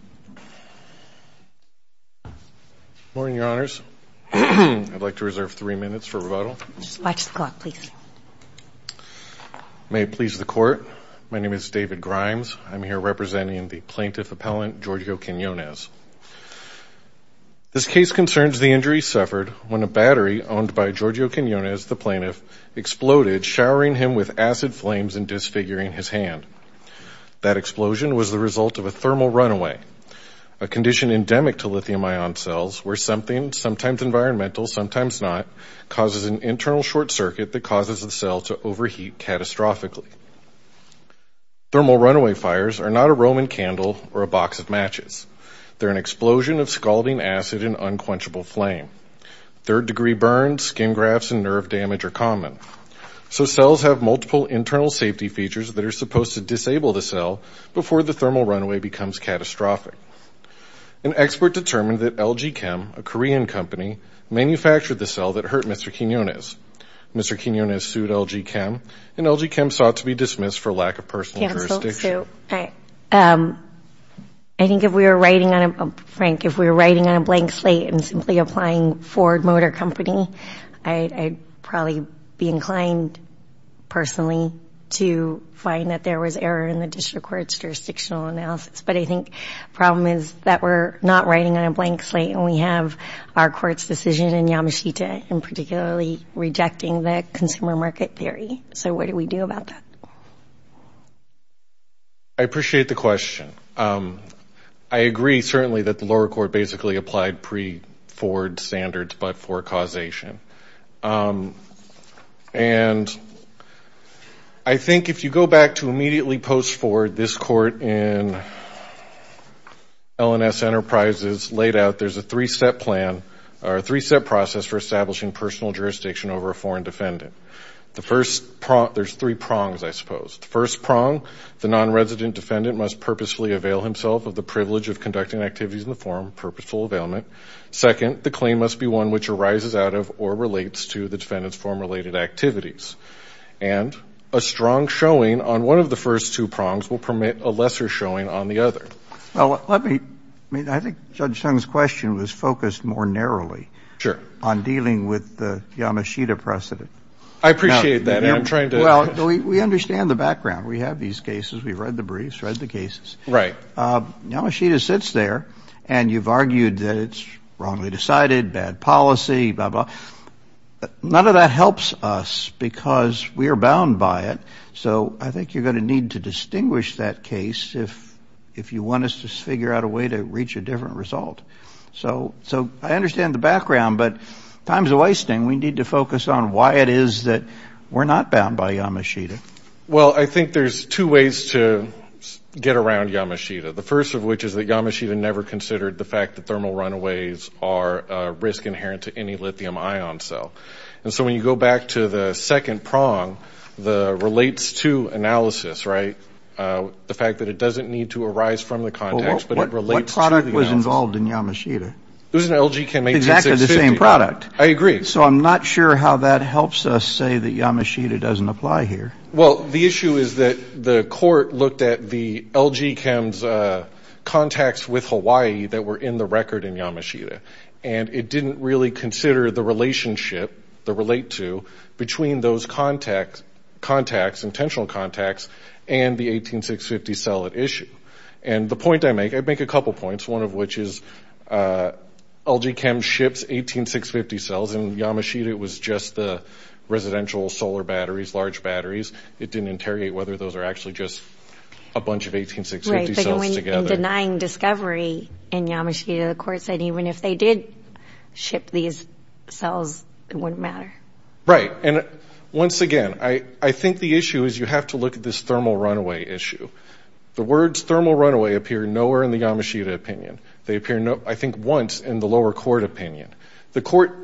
Good morning, Your Honors. I'd like to reserve three minutes for rebuttal. Watch the clock, please. May it please the Court, my name is David Grimes. I'm here representing the plaintiff appellant Giorgio Quiniones. This case concerns the injury suffered when a battery owned by Giorgio Quiniones, the plaintiff, exploded, showering him with acid flames and disfiguring his hand. That explosion was the result of a thermal runaway, a condition endemic to lithium-ion cells, where something, sometimes environmental, sometimes not, causes an internal short circuit that causes the cell to overheat catastrophically. Thermal runaway fires are not a Roman candle or a box of matches. They're an explosion of scalding acid and unquenchable flame. Third-degree burns, skin grafts, and nerve damage are common. So cells have multiple internal safety features that are supposed to disable the cell before the thermal runaway becomes catastrophic. An expert determined that LG Chem, a Korean company, manufactured the cell that hurt Mr. Quiniones. Mr. Quiniones sued LG Chem, and LG Chem sought to be dismissed for lack of personal jurisdiction. Counsel, so I think if we were writing on a blank slate and simply applying Ford Motor Company, I'd probably be inclined, personally, to find that there was error in the district court's jurisdictional analysis. But I think the problem is that we're not writing on a blank slate, and we have our court's decision in Yamashita, and particularly rejecting the consumer market theory. So what do we do about that? I appreciate the question. I agree, certainly, that the lower court basically applied pre-Ford standards but for causation. And I think if you go back to immediately post-Ford, this court in L&S Enterprises laid out there's a three-step plan or a three-step process for establishing personal jurisdiction over a foreign defendant. There's three prongs, I suppose. The first prong, the non-resident defendant must purposefully avail himself of the privilege of conducting activities in the forum, purposeful availment. Second, the claim must be one which arises out of or relates to the defendant's forum-related activities. And a strong showing on one of the first two prongs will permit a lesser showing on the other. Well, let me, I mean, I think Judge Chung's question was focused more narrowly on dealing with the Yamashita precedent. I appreciate that. Well, we understand the background. We have these cases. We've read the briefs, read the cases. Right. Yamashita sits there and you've argued that it's wrongly decided, bad policy, blah, blah. None of that helps us because we are bound by it. So I think you're going to need to distinguish that case if you want us to figure out a way to reach a different result. So I understand the background, but time's a wasting. We need to focus on why it is that we're not bound by Yamashita. Well, I think there's two ways to get around Yamashita. The first of which is that Yamashita never considered the fact that thermal runaways are a risk inherent to any lithium ion cell. And so when you go back to the second prong, the relates to analysis, right, the fact that it doesn't need to arise from the context, but it relates to the analysis. What product was involved in Yamashita? It was an LG Chem 18650. Exactly the same product. I agree. So I'm not sure how that helps us say that Yamashita doesn't apply here. Well, the issue is that the court looked at the LG Chem's contacts with Hawaii that were in the record in Yamashita, and it didn't really consider the relationship, the relate to, between those contacts, intentional contacts, and the 18650 cell at issue. And the point I make – I make a couple points, one of which is LG Chem ships 18650 cells in Yamashita. It was just the residential solar batteries, large batteries. It didn't interrogate whether those are actually just a bunch of 18650 cells together. Right, but in denying discovery in Yamashita, the court said even if they did ship these cells, it wouldn't matter. Right. And once again, I think the issue is you have to look at this thermal runaway issue. The words thermal runaway appear nowhere in the Yamashita opinion. They appear, I think, once in the lower court opinion. The court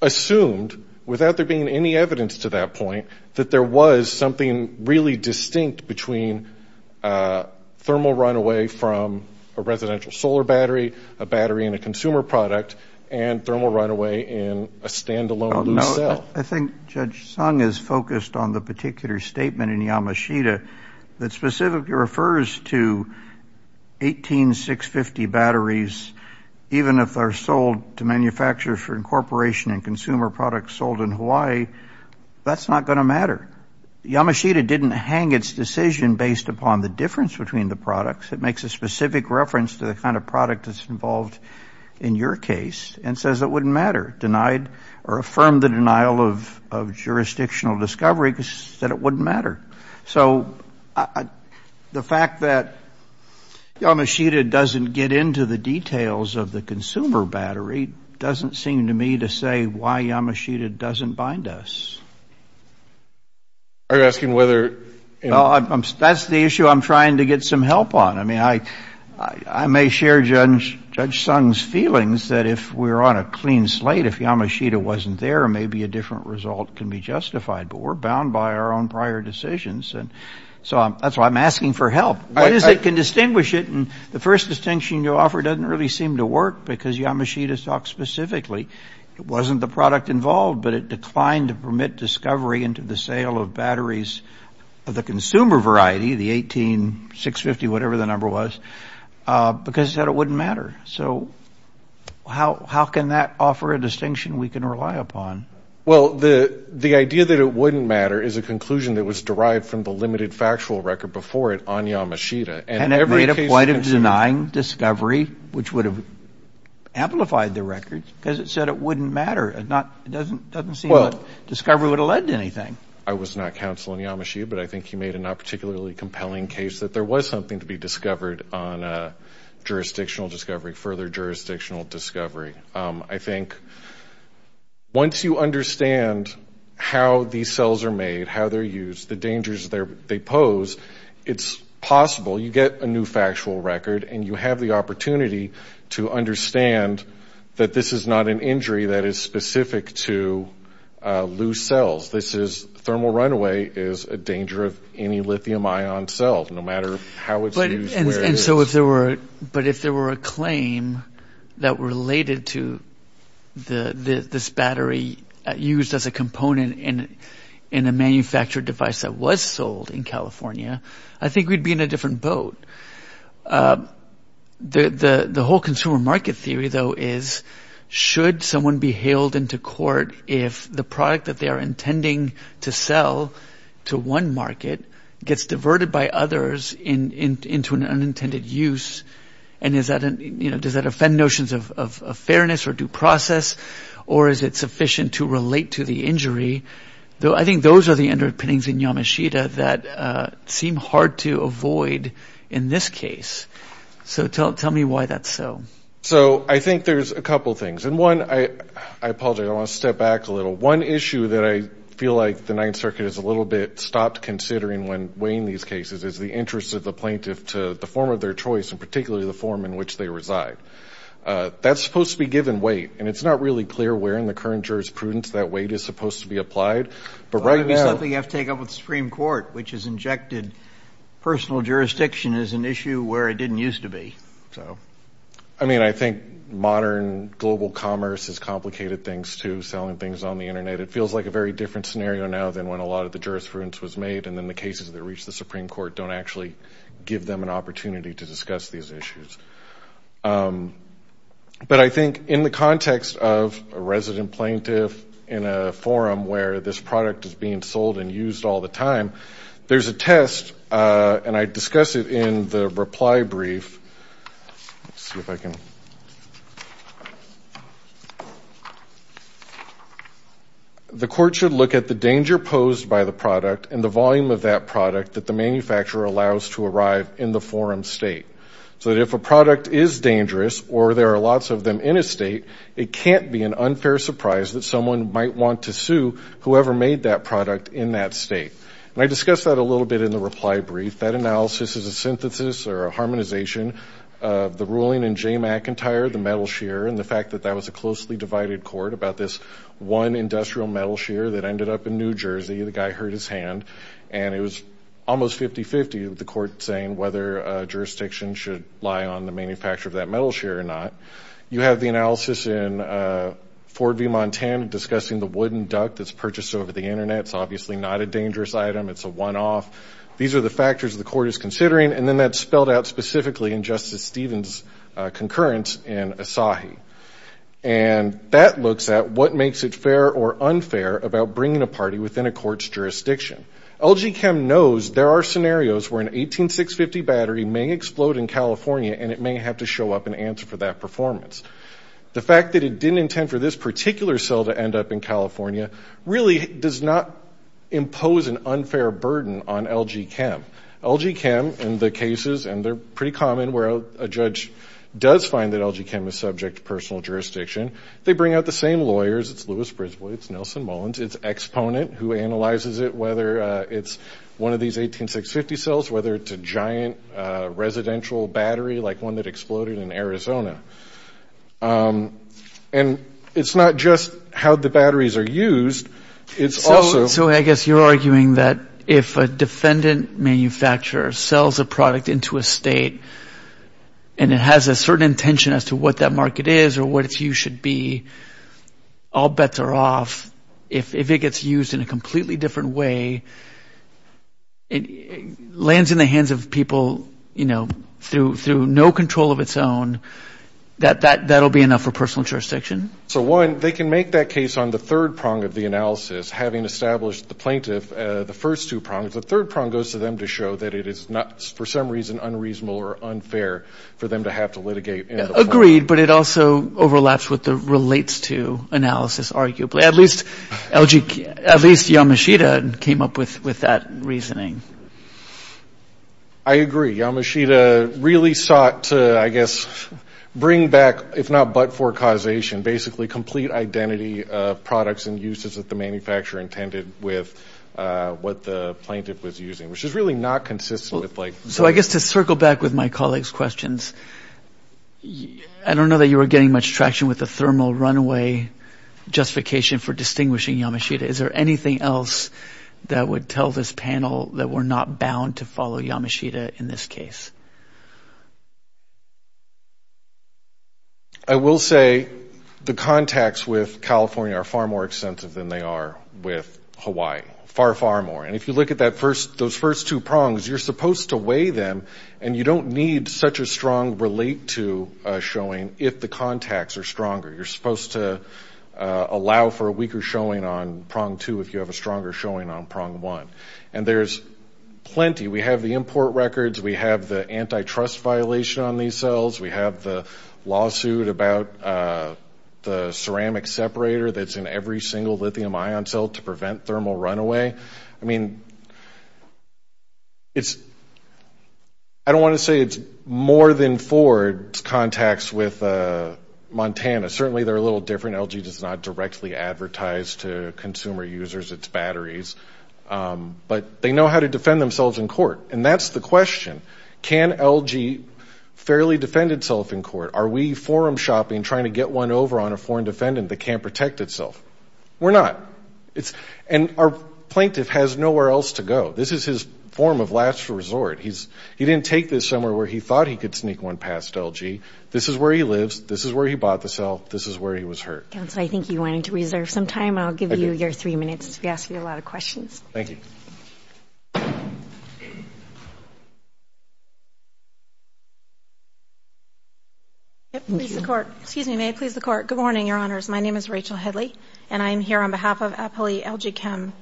assumed, without there being any evidence to that point, that there was something really distinct between thermal runaway from a residential solar battery, a battery in a consumer product, and thermal runaway in a standalone new cell. Well, I think Judge Sung is focused on the particular statement in Yamashita that specifically refers to 18650 batteries, even if they're sold to manufacturers for incorporation and consumer products sold in Hawaii, that's not going to matter. Yamashita didn't hang its decision based upon the difference between the products. It makes a specific reference to the kind of product that's involved in your case and says it wouldn't matter, denied or affirmed the denial of jurisdictional discovery, that it wouldn't matter. So the fact that Yamashita doesn't get into the details of the consumer battery doesn't seem to me to say why Yamashita doesn't bind us. Are you asking whether? That's the issue I'm trying to get some help on. I mean, I may share Judge Sung's feelings that if we're on a clean slate, if Yamashita wasn't there, maybe a different result can be justified. But we're bound by our own prior decisions. So that's why I'm asking for help. What is it can distinguish it? And the first distinction you offer doesn't really seem to work because Yamashita talks specifically it wasn't the product involved, but it declined to permit discovery into the sale of batteries of the consumer variety, the 18650, whatever the number was, because it said it wouldn't matter. So how can that offer a distinction we can rely upon? Well, the idea that it wouldn't matter is a conclusion that was derived from the limited factual record before it on Yamashita. And it made a point of denying discovery, which would have amplified the record, because it said it wouldn't matter. It doesn't seem that discovery would have led to anything. I was not counsel on Yamashita, but I think he made a not particularly compelling case that there was something to be discovered on a jurisdictional discovery, further jurisdictional discovery. I think once you understand how these cells are made, how they're used, the dangers they pose, it's possible you get a new factual record and you have the opportunity to understand that this is not an injury that is specific to loose cells. Thermal runaway is a danger of any lithium ion cell, no matter how it's used, where it is. But if there were a claim that related to this battery used as a component in a manufactured device that was sold in California, I think we'd be in a different boat. The whole consumer market theory, though, is should someone be hailed into court if the product that they are intending to sell to one market gets diverted by others into an unintended use, and does that offend notions of fairness or due process, or is it sufficient to relate to the injury? I think those are the underpinnings in Yamashita that seem hard to avoid in this case. So tell me why that's so. So I think there's a couple things. And one, I apologize, I want to step back a little. One issue that I feel like the Ninth Circuit has a little bit stopped considering when weighing these cases is the interest of the plaintiff to the form of their choice and particularly the form in which they reside. That's supposed to be given weight, and it's not really clear where in the current jurisprudence that weight is supposed to be applied. But right now you have to take up with the Supreme Court, which has injected personal jurisdiction as an issue where it didn't used to be. I mean, I think modern global commerce has complicated things, too, selling things on the Internet. It feels like a very different scenario now than when a lot of the jurisprudence was made and then the cases that reach the Supreme Court don't actually give them an opportunity to discuss these issues. But I think in the context of a resident plaintiff in a forum where this product is being sold and used all the time, there's a test, and I discuss it in the reply brief. Let's see if I can. The court should look at the danger posed by the product and the volume of that product that the manufacturer allows to arrive in the forum state. So that if a product is dangerous or there are lots of them in a state, it can't be an unfair surprise that someone might want to sue whoever made that product in that state. And I discuss that a little bit in the reply brief. That analysis is a synthesis or a harmonization of the ruling in Jay McIntyre, the metal shear, and the fact that that was a closely divided court about this one industrial metal shear that ended up in New Jersey. The guy hurt his hand, and it was almost 50-50 with the court saying whether jurisdiction should lie on the manufacturer of that metal shear or not. You have the analysis in Ford v. Montan discussing the wooden duct that's purchased over the Internet. It's obviously not a dangerous item. It's a one-off. These are the factors the court is considering, and then that's spelled out specifically in Justice Stevens' concurrence in Asahi. And that looks at what makes it fair or unfair about bringing a party within a court's jurisdiction. LG Chem knows there are scenarios where an 18650 battery may explode in California, and it may have to show up and answer for that performance. The fact that it didn't intend for this particular cell to end up in California really does not impose an unfair burden on LG Chem. LG Chem, in the cases, and they're pretty common where a judge does find that LG Chem is subject to personal jurisdiction, they bring out the same lawyers. It's Louis Brisbane. It's Nelson Mullins. It's Exponent who analyzes it, whether it's one of these 18650 cells, whether it's a giant residential battery like one that exploded in Arizona. And it's not just how the batteries are used. So I guess you're arguing that if a defendant manufacturer sells a product into a state and it has a certain intention as to what that market is or what its use should be, all bets are off. If it gets used in a completely different way, lands in the hands of people, you know, through no control of its own, that will be enough for personal jurisdiction? So, one, they can make that case on the third prong of the analysis, having established the plaintiff, the first two prongs. The third prong goes to them to show that it is, for some reason, unreasonable or unfair for them to have to litigate. Agreed, but it also overlaps with the relates to analysis, arguably. At least Yamashita came up with that reasoning. I agree. Yamashita really sought to, I guess, bring back, if not but for causation, basically complete identity of products and uses that the manufacturer intended with what the plaintiff was using, which is really not consistent with, like, So I guess to circle back with my colleague's questions, I don't know that you were getting much traction with the thermal runaway justification for distinguishing Yamashita. Is there anything else that would tell this panel that we're not bound to follow Yamashita in this case? I will say the contacts with California are far more extensive than they are with Hawaii, far, far more. And if you look at those first two prongs, you're supposed to weigh them, and you don't need such a strong relate to showing if the contacts are stronger. You're supposed to allow for a weaker showing on prong two if you have a stronger showing on prong one. And there's plenty. We have the import records. We have the antitrust violation on these cells. We have the lawsuit about the ceramic separator that's in every single lithium ion cell to prevent thermal runaway. I mean, it's – I don't want to say it's more than Ford's contacts with Montana. Certainly, they're a little different. LG does not directly advertise to consumer users its batteries. But they know how to defend themselves in court. And that's the question. Can LG fairly defend itself in court? Are we forum shopping trying to get one over on a foreign defendant that can't protect itself? We're not. And our plaintiff has nowhere else to go. This is his form of last resort. He didn't take this somewhere where he thought he could sneak one past LG. This is where he lives. This is where he bought the cell. This is where he was hurt. Counsel, I think you wanted to reserve some time. I'll give you your three minutes. We asked you a lot of questions. Thank you. May it please the Court. Good morning, Your Honors. My name is Rachel Headley. And I am here on behalf of Appli LG Chem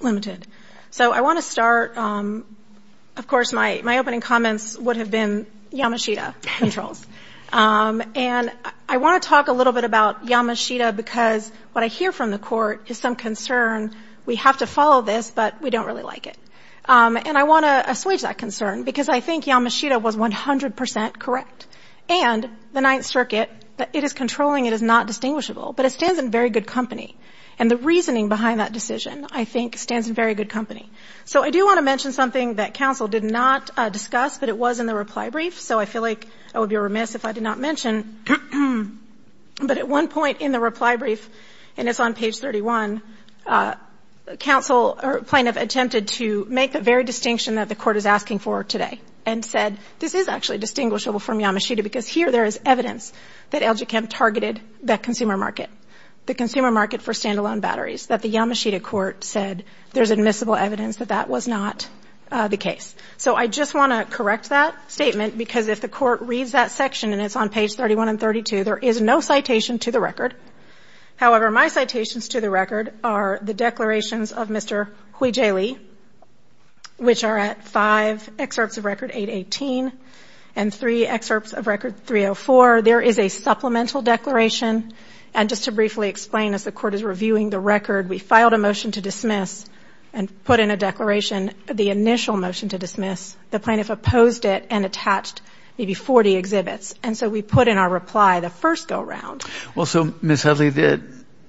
Limited. So I want to start – of course, my opening comments would have been Yamashita controls. And I want to talk a little bit about Yamashita because what I hear from the Court is some concern. We have to follow this, but we don't really like it. And I want to assuage that concern because I think Yamashita was 100 percent correct. And the Ninth Circuit, it is controlling. It is not distinguishable. But it stands in very good company. And the reasoning behind that decision, I think, stands in very good company. So I do want to mention something that counsel did not discuss, but it was in the reply brief. So I feel like I would be remiss if I did not mention. But at one point in the reply brief, and it's on page 31, counsel or plaintiff attempted to make the very distinction that the Court is asking for today and said this is actually distinguishable from Yamashita because here there is evidence that LG Chem targeted that consumer market, the consumer market for standalone batteries, that the Yamashita Court said there's admissible evidence that that was not the case. So I just want to correct that statement because if the Court reads that section, and it's on page 31 and 32, there is no citation to the record. However, my citations to the record are the declarations of Mr. Hui-Jae Lee, which are at five excerpts of Record 818 and three excerpts of Record 304. There is a supplemental declaration. And just to briefly explain, as the Court is reviewing the record, we filed a motion to dismiss and put in a declaration the initial motion to dismiss. The plaintiff opposed it and attached maybe 40 exhibits. And so we put in our reply the first go-round. Well, so Ms. Hudley,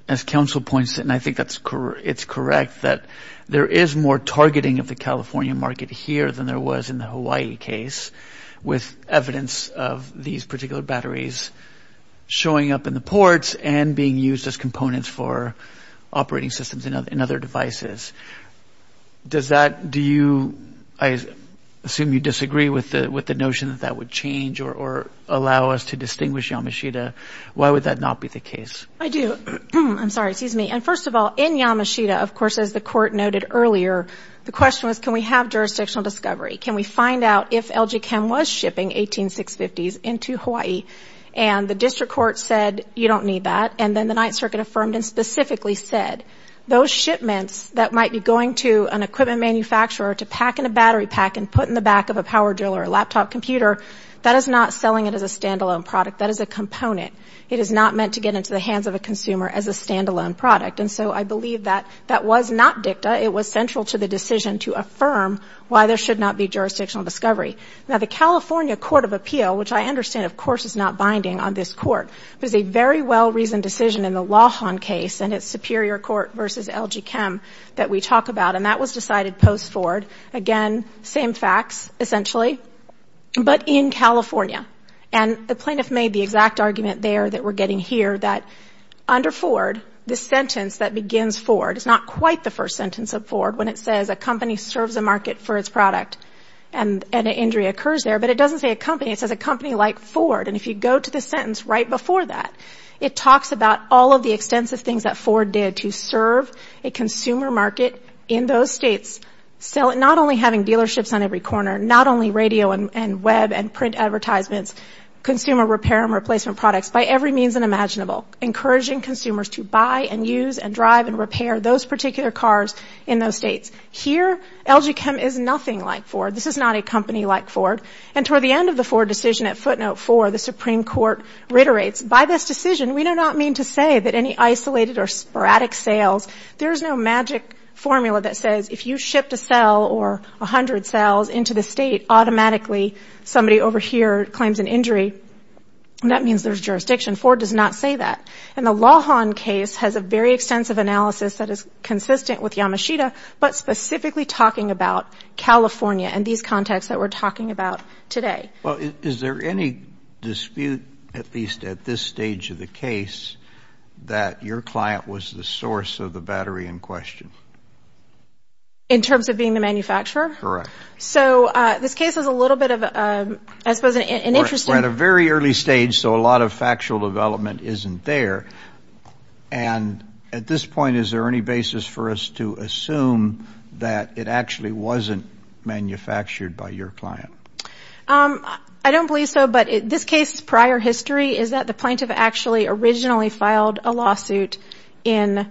as counsel points, and I think it's correct, that there is more targeting of the California market here than there was in the Hawaii case with evidence of these particular batteries showing up in the ports and being used as components for operating systems in other devices. Does that do you, I assume you disagree with the notion that that would change or allow us to distinguish Yamashita? Why would that not be the case? I do. I'm sorry, excuse me. And first of all, in Yamashita, of course, as the Court noted earlier, the question was, can we have jurisdictional discovery? Can we find out if LG Chem was shipping 18650s into Hawaii? And the District Court said, you don't need that. And then the Ninth Circuit affirmed and specifically said, those shipments that might be going to an equipment manufacturer to pack in a battery pack and put in the back of a power drill or a laptop computer, that is not selling it as a standalone product. That is a component. It is not meant to get into the hands of a consumer as a standalone product. And so I believe that that was not dicta. It was central to the decision to affirm why there should not be jurisdictional discovery. Now, the California Court of Appeal, which I understand, of course, is not binding on this Court, was a very well-reasoned decision in the Lawhon case and its superior court versus LG Chem that we talk about. And that was decided post-Ford. Again, same facts, essentially, but in California. And the plaintiff made the exact argument there that we're getting here that under Ford, the sentence that begins Ford is not quite the first sentence of Ford when it says a company serves a market for its product and an injury occurs there. But it doesn't say a company. It says a company like Ford. And if you go to the sentence right before that, it talks about all of the extensive things that Ford did to serve a consumer market in those states, not only having dealerships on every corner, not only radio and web and print advertisements, consumer repair and replacement products, by every means imaginable, encouraging consumers to buy and use and drive and repair those particular cars in those states. Here, LG Chem is nothing like Ford. This is not a company like Ford. And toward the end of the Ford decision at footnote four, the Supreme Court reiterates, by this decision, we do not mean to say that any isolated or sporadic sales, there is no magic formula that says if you shipped a cell or a hundred cells into the state, automatically somebody over here claims an injury. And that means there's jurisdiction. Ford does not say that. And the Lawhon case has a very extensive analysis that is consistent with Yamashita, but specifically talking about California and these contexts that we're talking about today. Well, is there any dispute, at least at this stage of the case, that your client was the source of the battery in question? In terms of being the manufacturer? Correct. So this case is a little bit of, I suppose, an interesting. We're at a very early stage, so a lot of factual development isn't there. And at this point, is there any basis for us to assume that it actually wasn't manufactured by your client? I don't believe so. But this case's prior history is that the plaintiff actually originally filed a lawsuit in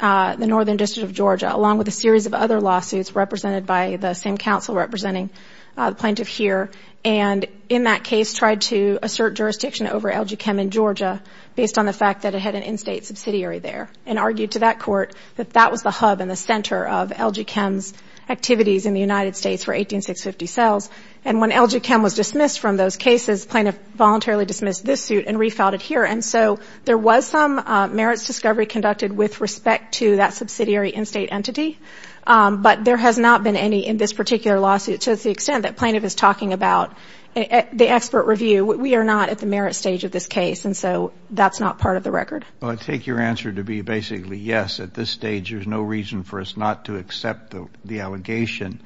the northern district of Georgia, along with a series of other lawsuits represented by the same counsel representing the plaintiff here. And in that case, tried to assert jurisdiction over LG Chem in Georgia, based on the fact that it had an in-state subsidiary there, and argued to that court that that was the hub and the center of LG Chem's activities in the United States for 18650 cells. And when LG Chem was dismissed from those cases, plaintiff voluntarily dismissed this suit and refiled it here. And so there was some merits discovery conducted with respect to that subsidiary in-state entity, but there has not been any in this particular lawsuit to the extent that plaintiff is talking about the expert review. We are not at the merit stage of this case, and so that's not part of the record. Well, I take your answer to be basically, yes, at this stage, there's no reason for us not to accept the allegation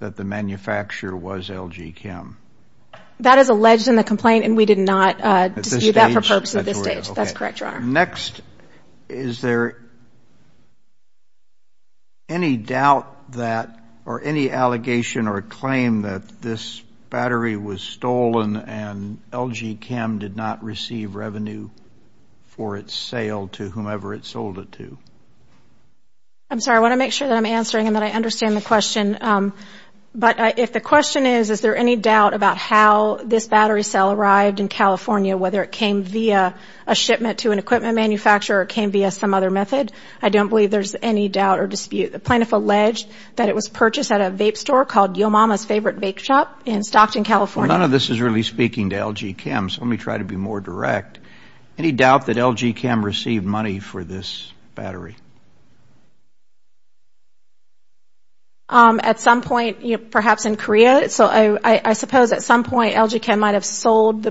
that the manufacturer was LG Chem. That is alleged in the complaint, and we did not dispute that for purposes at this stage. That's correct, Your Honor. Next, is there any doubt that or any allegation or claim that this battery was stolen and LG Chem did not receive revenue for its sale to whomever it sold it to? I'm sorry. I want to make sure that I'm answering and that I understand the question. But if the question is, is there any doubt about how this battery cell arrived in California, whether it came via a shipment to an equipment manufacturer or came via some other method, I don't believe there's any doubt or dispute. The plaintiff alleged that it was purchased at a vape store called Yo Mama's Favorite Vape Shop in Stockton, California. None of this is really speaking to LG Chem, so let me try to be more direct. Any doubt that LG Chem received money for this battery? At some point, perhaps in Korea. I suppose at some point LG Chem might have sold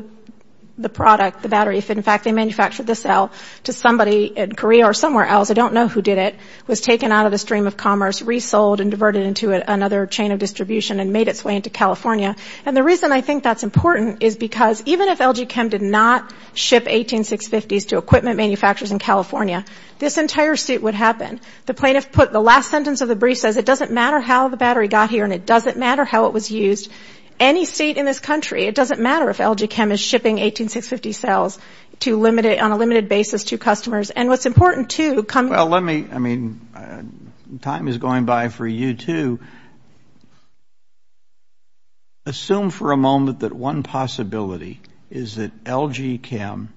the product, the battery, if in fact they manufactured the cell to somebody in Korea or somewhere else. I don't know who did it. It was taken out of the stream of commerce, resold and diverted into another chain of distribution and made its way into California. And the reason I think that's important is because even if LG Chem did not ship 18650s to equipment manufacturers in California, this entire suit would happen. The plaintiff put the last sentence of the brief says, it doesn't matter how the battery got here and it doesn't matter how it was used. Any state in this country, it doesn't matter if LG Chem is shipping 18650 cells on a limited basis to customers. And what's important, too, coming to this point, time is going by for you to assume for a moment that one possibility is that LG Chem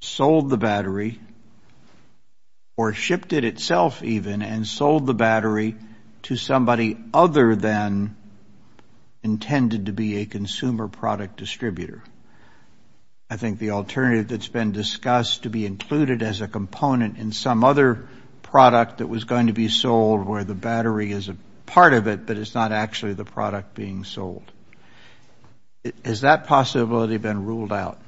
sold the battery or shipped it itself even and sold the battery to somebody other than intended to be a consumer product distributor. I think the alternative that's been discussed to be included as a component in some other product that was going to be sold where the battery is a part of it, but it's not actually the product being sold. Has that possibility been ruled out?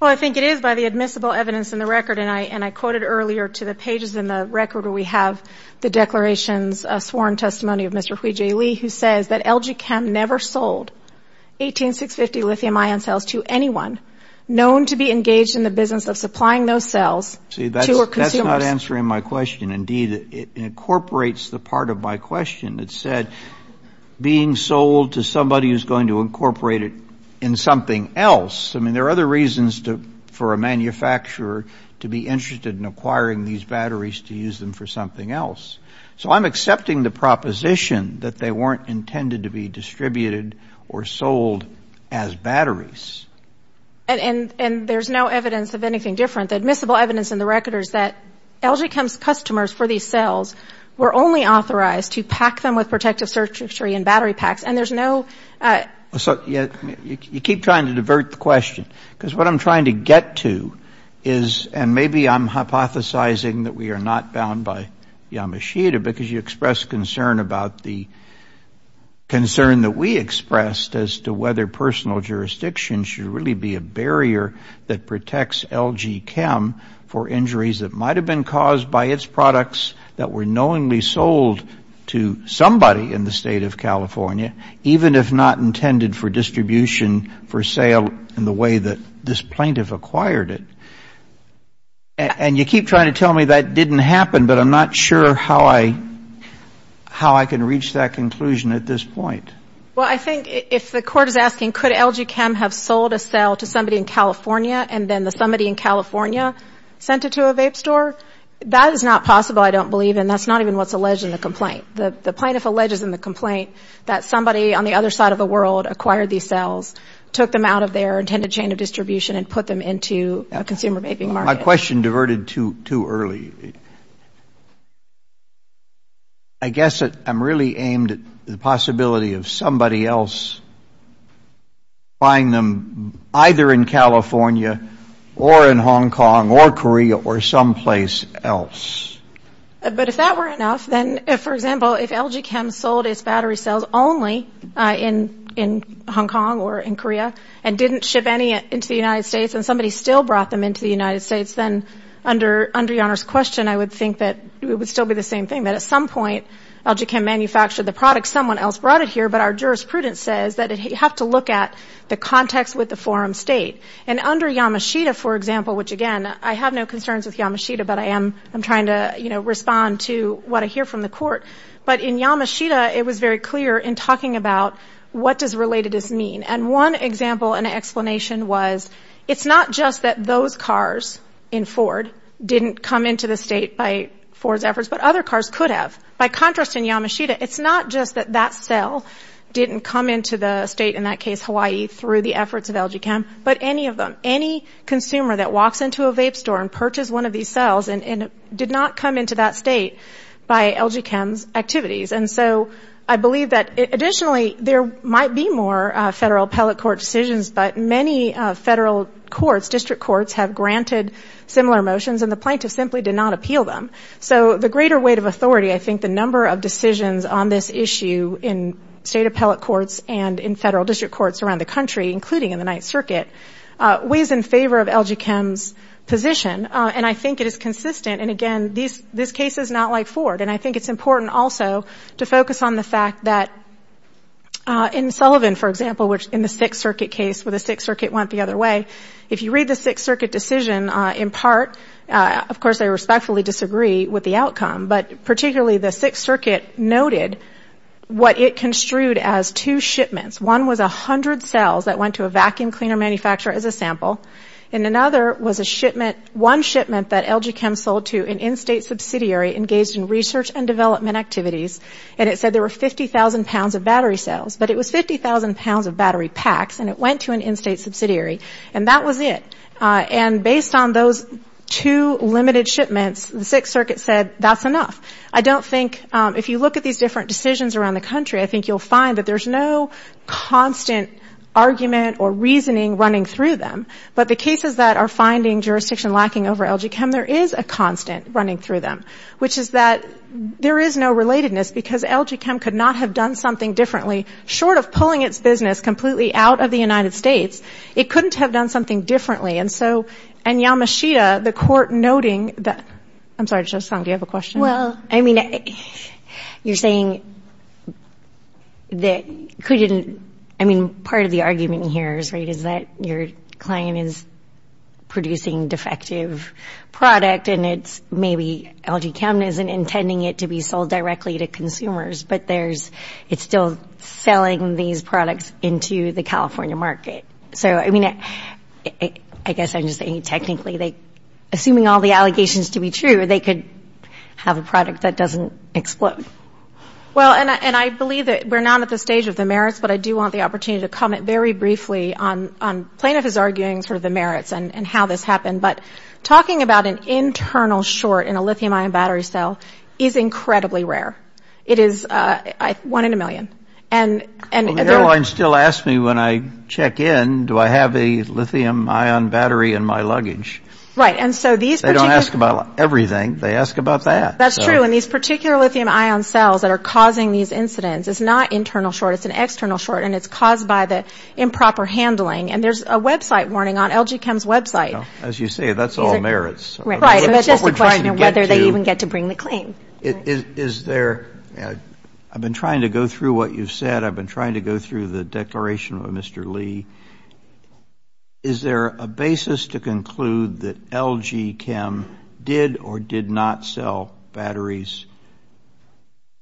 Well, I think it is by the admissible evidence in the record, and I quoted earlier to the pages in the record where we have the declarations, a sworn testimony of Mr. Hui-Jae Lee who says that LG Chem never sold 18650 lithium ion cells to anyone known to be engaged in the business of supplying those cells to a consumer. See, that's not answering my question. Indeed, it incorporates the part of my question that said being sold to somebody who's going to incorporate it in something else. I mean, there are other reasons for a manufacturer to be interested in acquiring these batteries to use them for something else. So I'm accepting the proposition that they weren't intended to be distributed or sold as batteries. And there's no evidence of anything different. The admissible evidence in the record is that LG Chem's customers for these cells were only authorized to pack them with protective surgery and battery packs, and there's no ‑‑ So you keep trying to divert the question. Because what I'm trying to get to is, and maybe I'm hypothesizing that we are not bound by Yamashita because you expressed concern about the concern that we expressed as to whether personal jurisdiction should really be a barrier that protects LG Chem for injuries that might have been caused by its products that were knowingly sold to somebody in the State of California, even if not intended for distribution for sale in the way that this plaintiff acquired it. And you keep trying to tell me that didn't happen, but I'm not sure how I can reach that conclusion at this point. Well, I think if the court is asking could LG Chem have sold a cell to somebody in California and then the somebody in California sent it to a vape store, that is not possible. I don't believe in that. That's not even what's alleged in the complaint. The plaintiff alleges in the complaint that somebody on the other side of the world acquired these cells, took them out of their intended chain of distribution and put them into a consumer vaping market. My question diverted too early. I guess I'm really aimed at the possibility of somebody else buying them either in California or in Hong Kong or Korea or someplace else. But if that were enough, then, for example, if LG Chem sold its battery cells only in Hong Kong or in Korea and didn't ship any into the United States and somebody still brought them into the United States, then under Your Honor's question, I would think that it would still be the same thing, that at some point LG Chem manufactured the product, someone else brought it here, but our jurisprudence says that you have to look at the context with the forum state. And under Yamashita, for example, which, again, I have no concerns with Yamashita, but I am trying to, you know, respond to what I hear from the court. But in Yamashita, it was very clear in talking about what does relatedness mean. And one example and explanation was it's not just that those cars in Ford didn't come into the state by Ford's efforts, but other cars could have. By contrast, in Yamashita, it's not just that that cell didn't come into the state, in that case Hawaii, through the efforts of LG Chem, but any of them, any consumer that walks into a vape store and purchases one of these cells and did not come into that state by LG Chem's activities. And so I believe that additionally there might be more federal appellate court decisions, but many federal courts, district courts, have granted similar motions and the plaintiff simply did not appeal them. So the greater weight of authority, I think the number of decisions on this issue in state appellate courts and in federal district courts around the country, including in the Ninth Circuit, weighs in favor of LG Chem's position. And I think it is consistent. And, again, this case is not like Ford. And I think it's important also to focus on the fact that in Sullivan, for example, in the Sixth Circuit case where the Sixth Circuit went the other way, if you read the Sixth Circuit decision in part, of course I respectfully disagree with the outcome, but particularly the Sixth Circuit noted what it construed as two shipments. One was 100 cells that went to a vacuum cleaner manufacturer as a sample. And another was a shipment, one shipment that LG Chem sold to an in-state subsidiary engaged in research and development activities, and it said there were 50,000 pounds of battery cells. But it was 50,000 pounds of battery packs, and it went to an in-state subsidiary, and that was it. And based on those two limited shipments, the Sixth Circuit said that's enough. I don't think, if you look at these different decisions around the country, I think you'll find that there's no constant argument or reasoning running through them. But the cases that are finding jurisdiction lacking over LG Chem, there is a constant running through them, which is that there is no relatedness, because LG Chem could not have done something differently, short of pulling its business completely out of the United States. It couldn't have done something differently, and so, and Yamashita, the court noting that, I'm sorry, Shoshana, do you have a question? Well, I mean, you're saying that couldn't, I mean, part of the argument here is, right, is that your client is producing defective product, and it's maybe LG Chem isn't intending it to be sold directly to consumers, but there's, it's still selling these products into the California market. So, I mean, I guess I'm just saying technically, assuming all the allegations to be true, they could have a product that doesn't explode. Well, and I believe that we're not at the stage of the merits, but I do want the opportunity to comment very briefly on plaintiff's arguing for the merits and how this happened. But talking about an internal short in a lithium-ion battery cell is incredibly rare. It is one in a million. Well, the airline still asks me when I check in, do I have a lithium-ion battery in my luggage? Right. And so these particular... They don't ask about everything. They ask about that. That's true. And these particular lithium-ion cells that are causing these incidents, it's not internal short, it's an external short, and it's caused by the improper handling. And there's a website warning on LG Chem's website. As you say, that's all merits. Right. That's just a question of whether they even get to bring the claim. Is there ñ I've been trying to go through what you've said. I've been trying to go through the declaration of Mr. Lee. Is there a basis to conclude that LG Chem did or did not sell batteries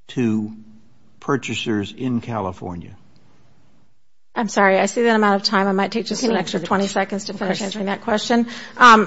to purchasers in California? I'm sorry. I see that I'm out of time. I might take just an extra 20 seconds to finish answering that question.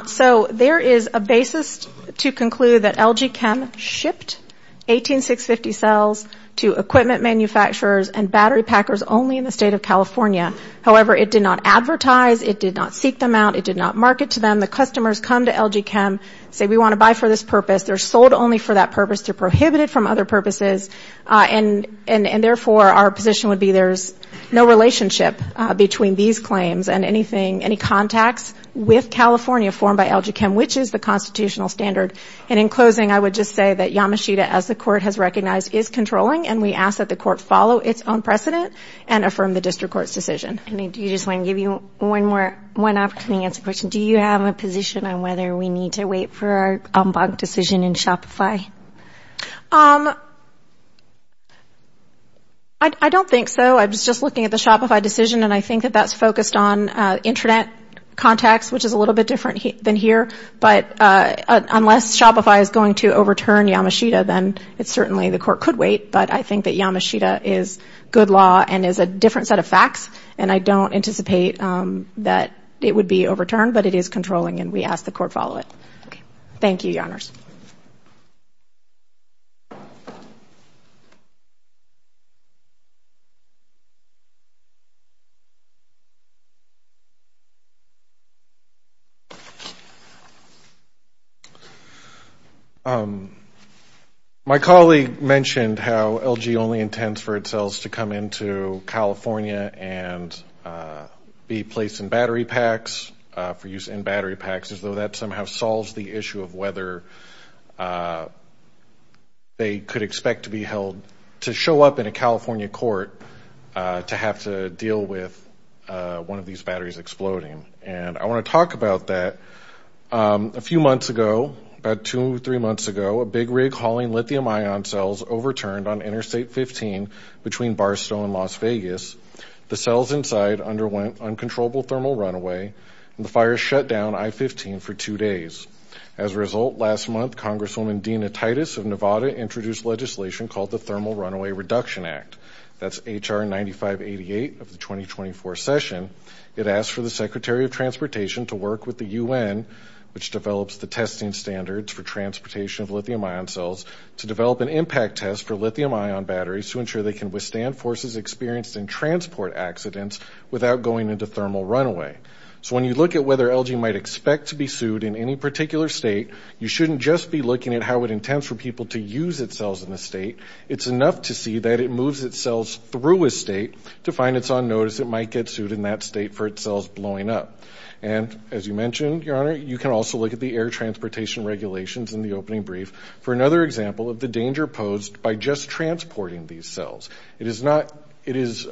So there is a basis to conclude that LG Chem shipped 18650 cells to equipment manufacturers and battery packers only in the state of California. However, it did not advertise. It did not seek them out. It did not market to them. The customers come to LG Chem, say, we want to buy for this purpose. They're sold only for that purpose. They're prohibited from other purposes. And, therefore, our position would be there's no relationship between these claims and anything, any contacts with California formed by LG Chem, which is the constitutional standard. And in closing, I would just say that Yamashita, as the court has recognized, is controlling, and we ask that the court follow its own precedent and affirm the district court's decision. I mean, do you just want to give you one more, one opportunity to answer the question. Do you have a position on whether we need to wait for our ombud decision in Shopify? I don't think so. I was just looking at the Shopify decision, and I think that that's focused on internet contacts, which is a little bit different than here. But unless Shopify is going to overturn Yamashita, then certainly the court could wait. But I think that Yamashita is good law and is a different set of facts, and I don't anticipate that it would be overturned. But it is controlling, and we ask the court follow it. Thank you, Your Honors. My colleague mentioned how LG only intends for its sales to come into California and be placed in battery packs, for use in battery packs, as though that somehow solves the issue of whether they could expect to be held, to show up in a California court to have to deal with one of these batteries exploding. And I want to talk about that. A few months ago, about two or three months ago, a big rig hauling lithium-ion cells overturned on Interstate 15 between Barstow and Las Vegas. The cells inside underwent uncontrollable thermal runaway, and the fire shut down I-15 for two days. As a result, last month, Congresswoman Dina Titus of Nevada introduced legislation called the Thermal Runaway Reduction Act. That's H.R. 9588 of the 2024 session. It asked for the Secretary of Transportation to work with the U.N., which develops the testing standards for transportation of lithium-ion cells, to develop an impact test for lithium-ion batteries to ensure they can withstand forces experienced in transport accidents without going into thermal runaway. So when you look at whether LG might expect to be sued in any particular state, you shouldn't just be looking at how it intends for people to use its cells in the state. It's enough to see that it moves its cells through a state to find it's on notice it might get sued in that state for its cells blowing up. And as you mentioned, Your Honor, you can also look at the air transportation regulations in the opening brief for another example of the danger posed by just transporting these cells. It is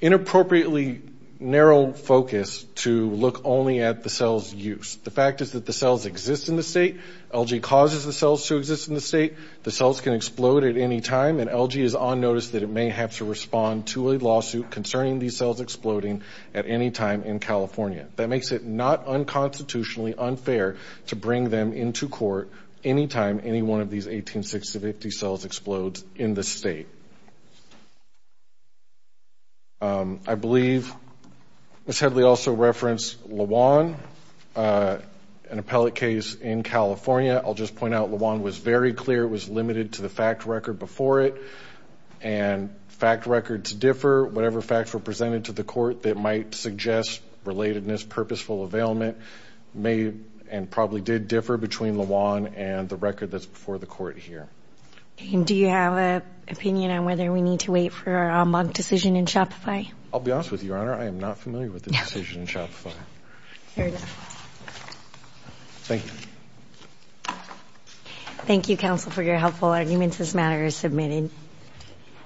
inappropriately narrow focus to look only at the cell's use. The fact is that the cells exist in the state. LG causes the cells to exist in the state. The cells can explode at any time, and LG is on notice that it may have to respond to a lawsuit concerning these cells exploding at any time in California. That makes it not unconstitutionally unfair to bring them into court any time any one of these 18650 cells explodes in the state. I believe Ms. Headley also referenced LeJuan, an appellate case in California. I'll just point out LeJuan was very clear. It was limited to the fact record before it, and fact records differ. Whatever facts were presented to the court that might suggest relatedness, purposeful availment, may and probably did differ between LeJuan and the record that's before the court here. Do you have an opinion on whether we need to wait for our on-blog decision in Shopify? I'll be honest with you, Your Honor, I am not familiar with the decision in Shopify. Fair enough. Thank you. Thank you, counsel, for your helpful arguments. This matter is submitted.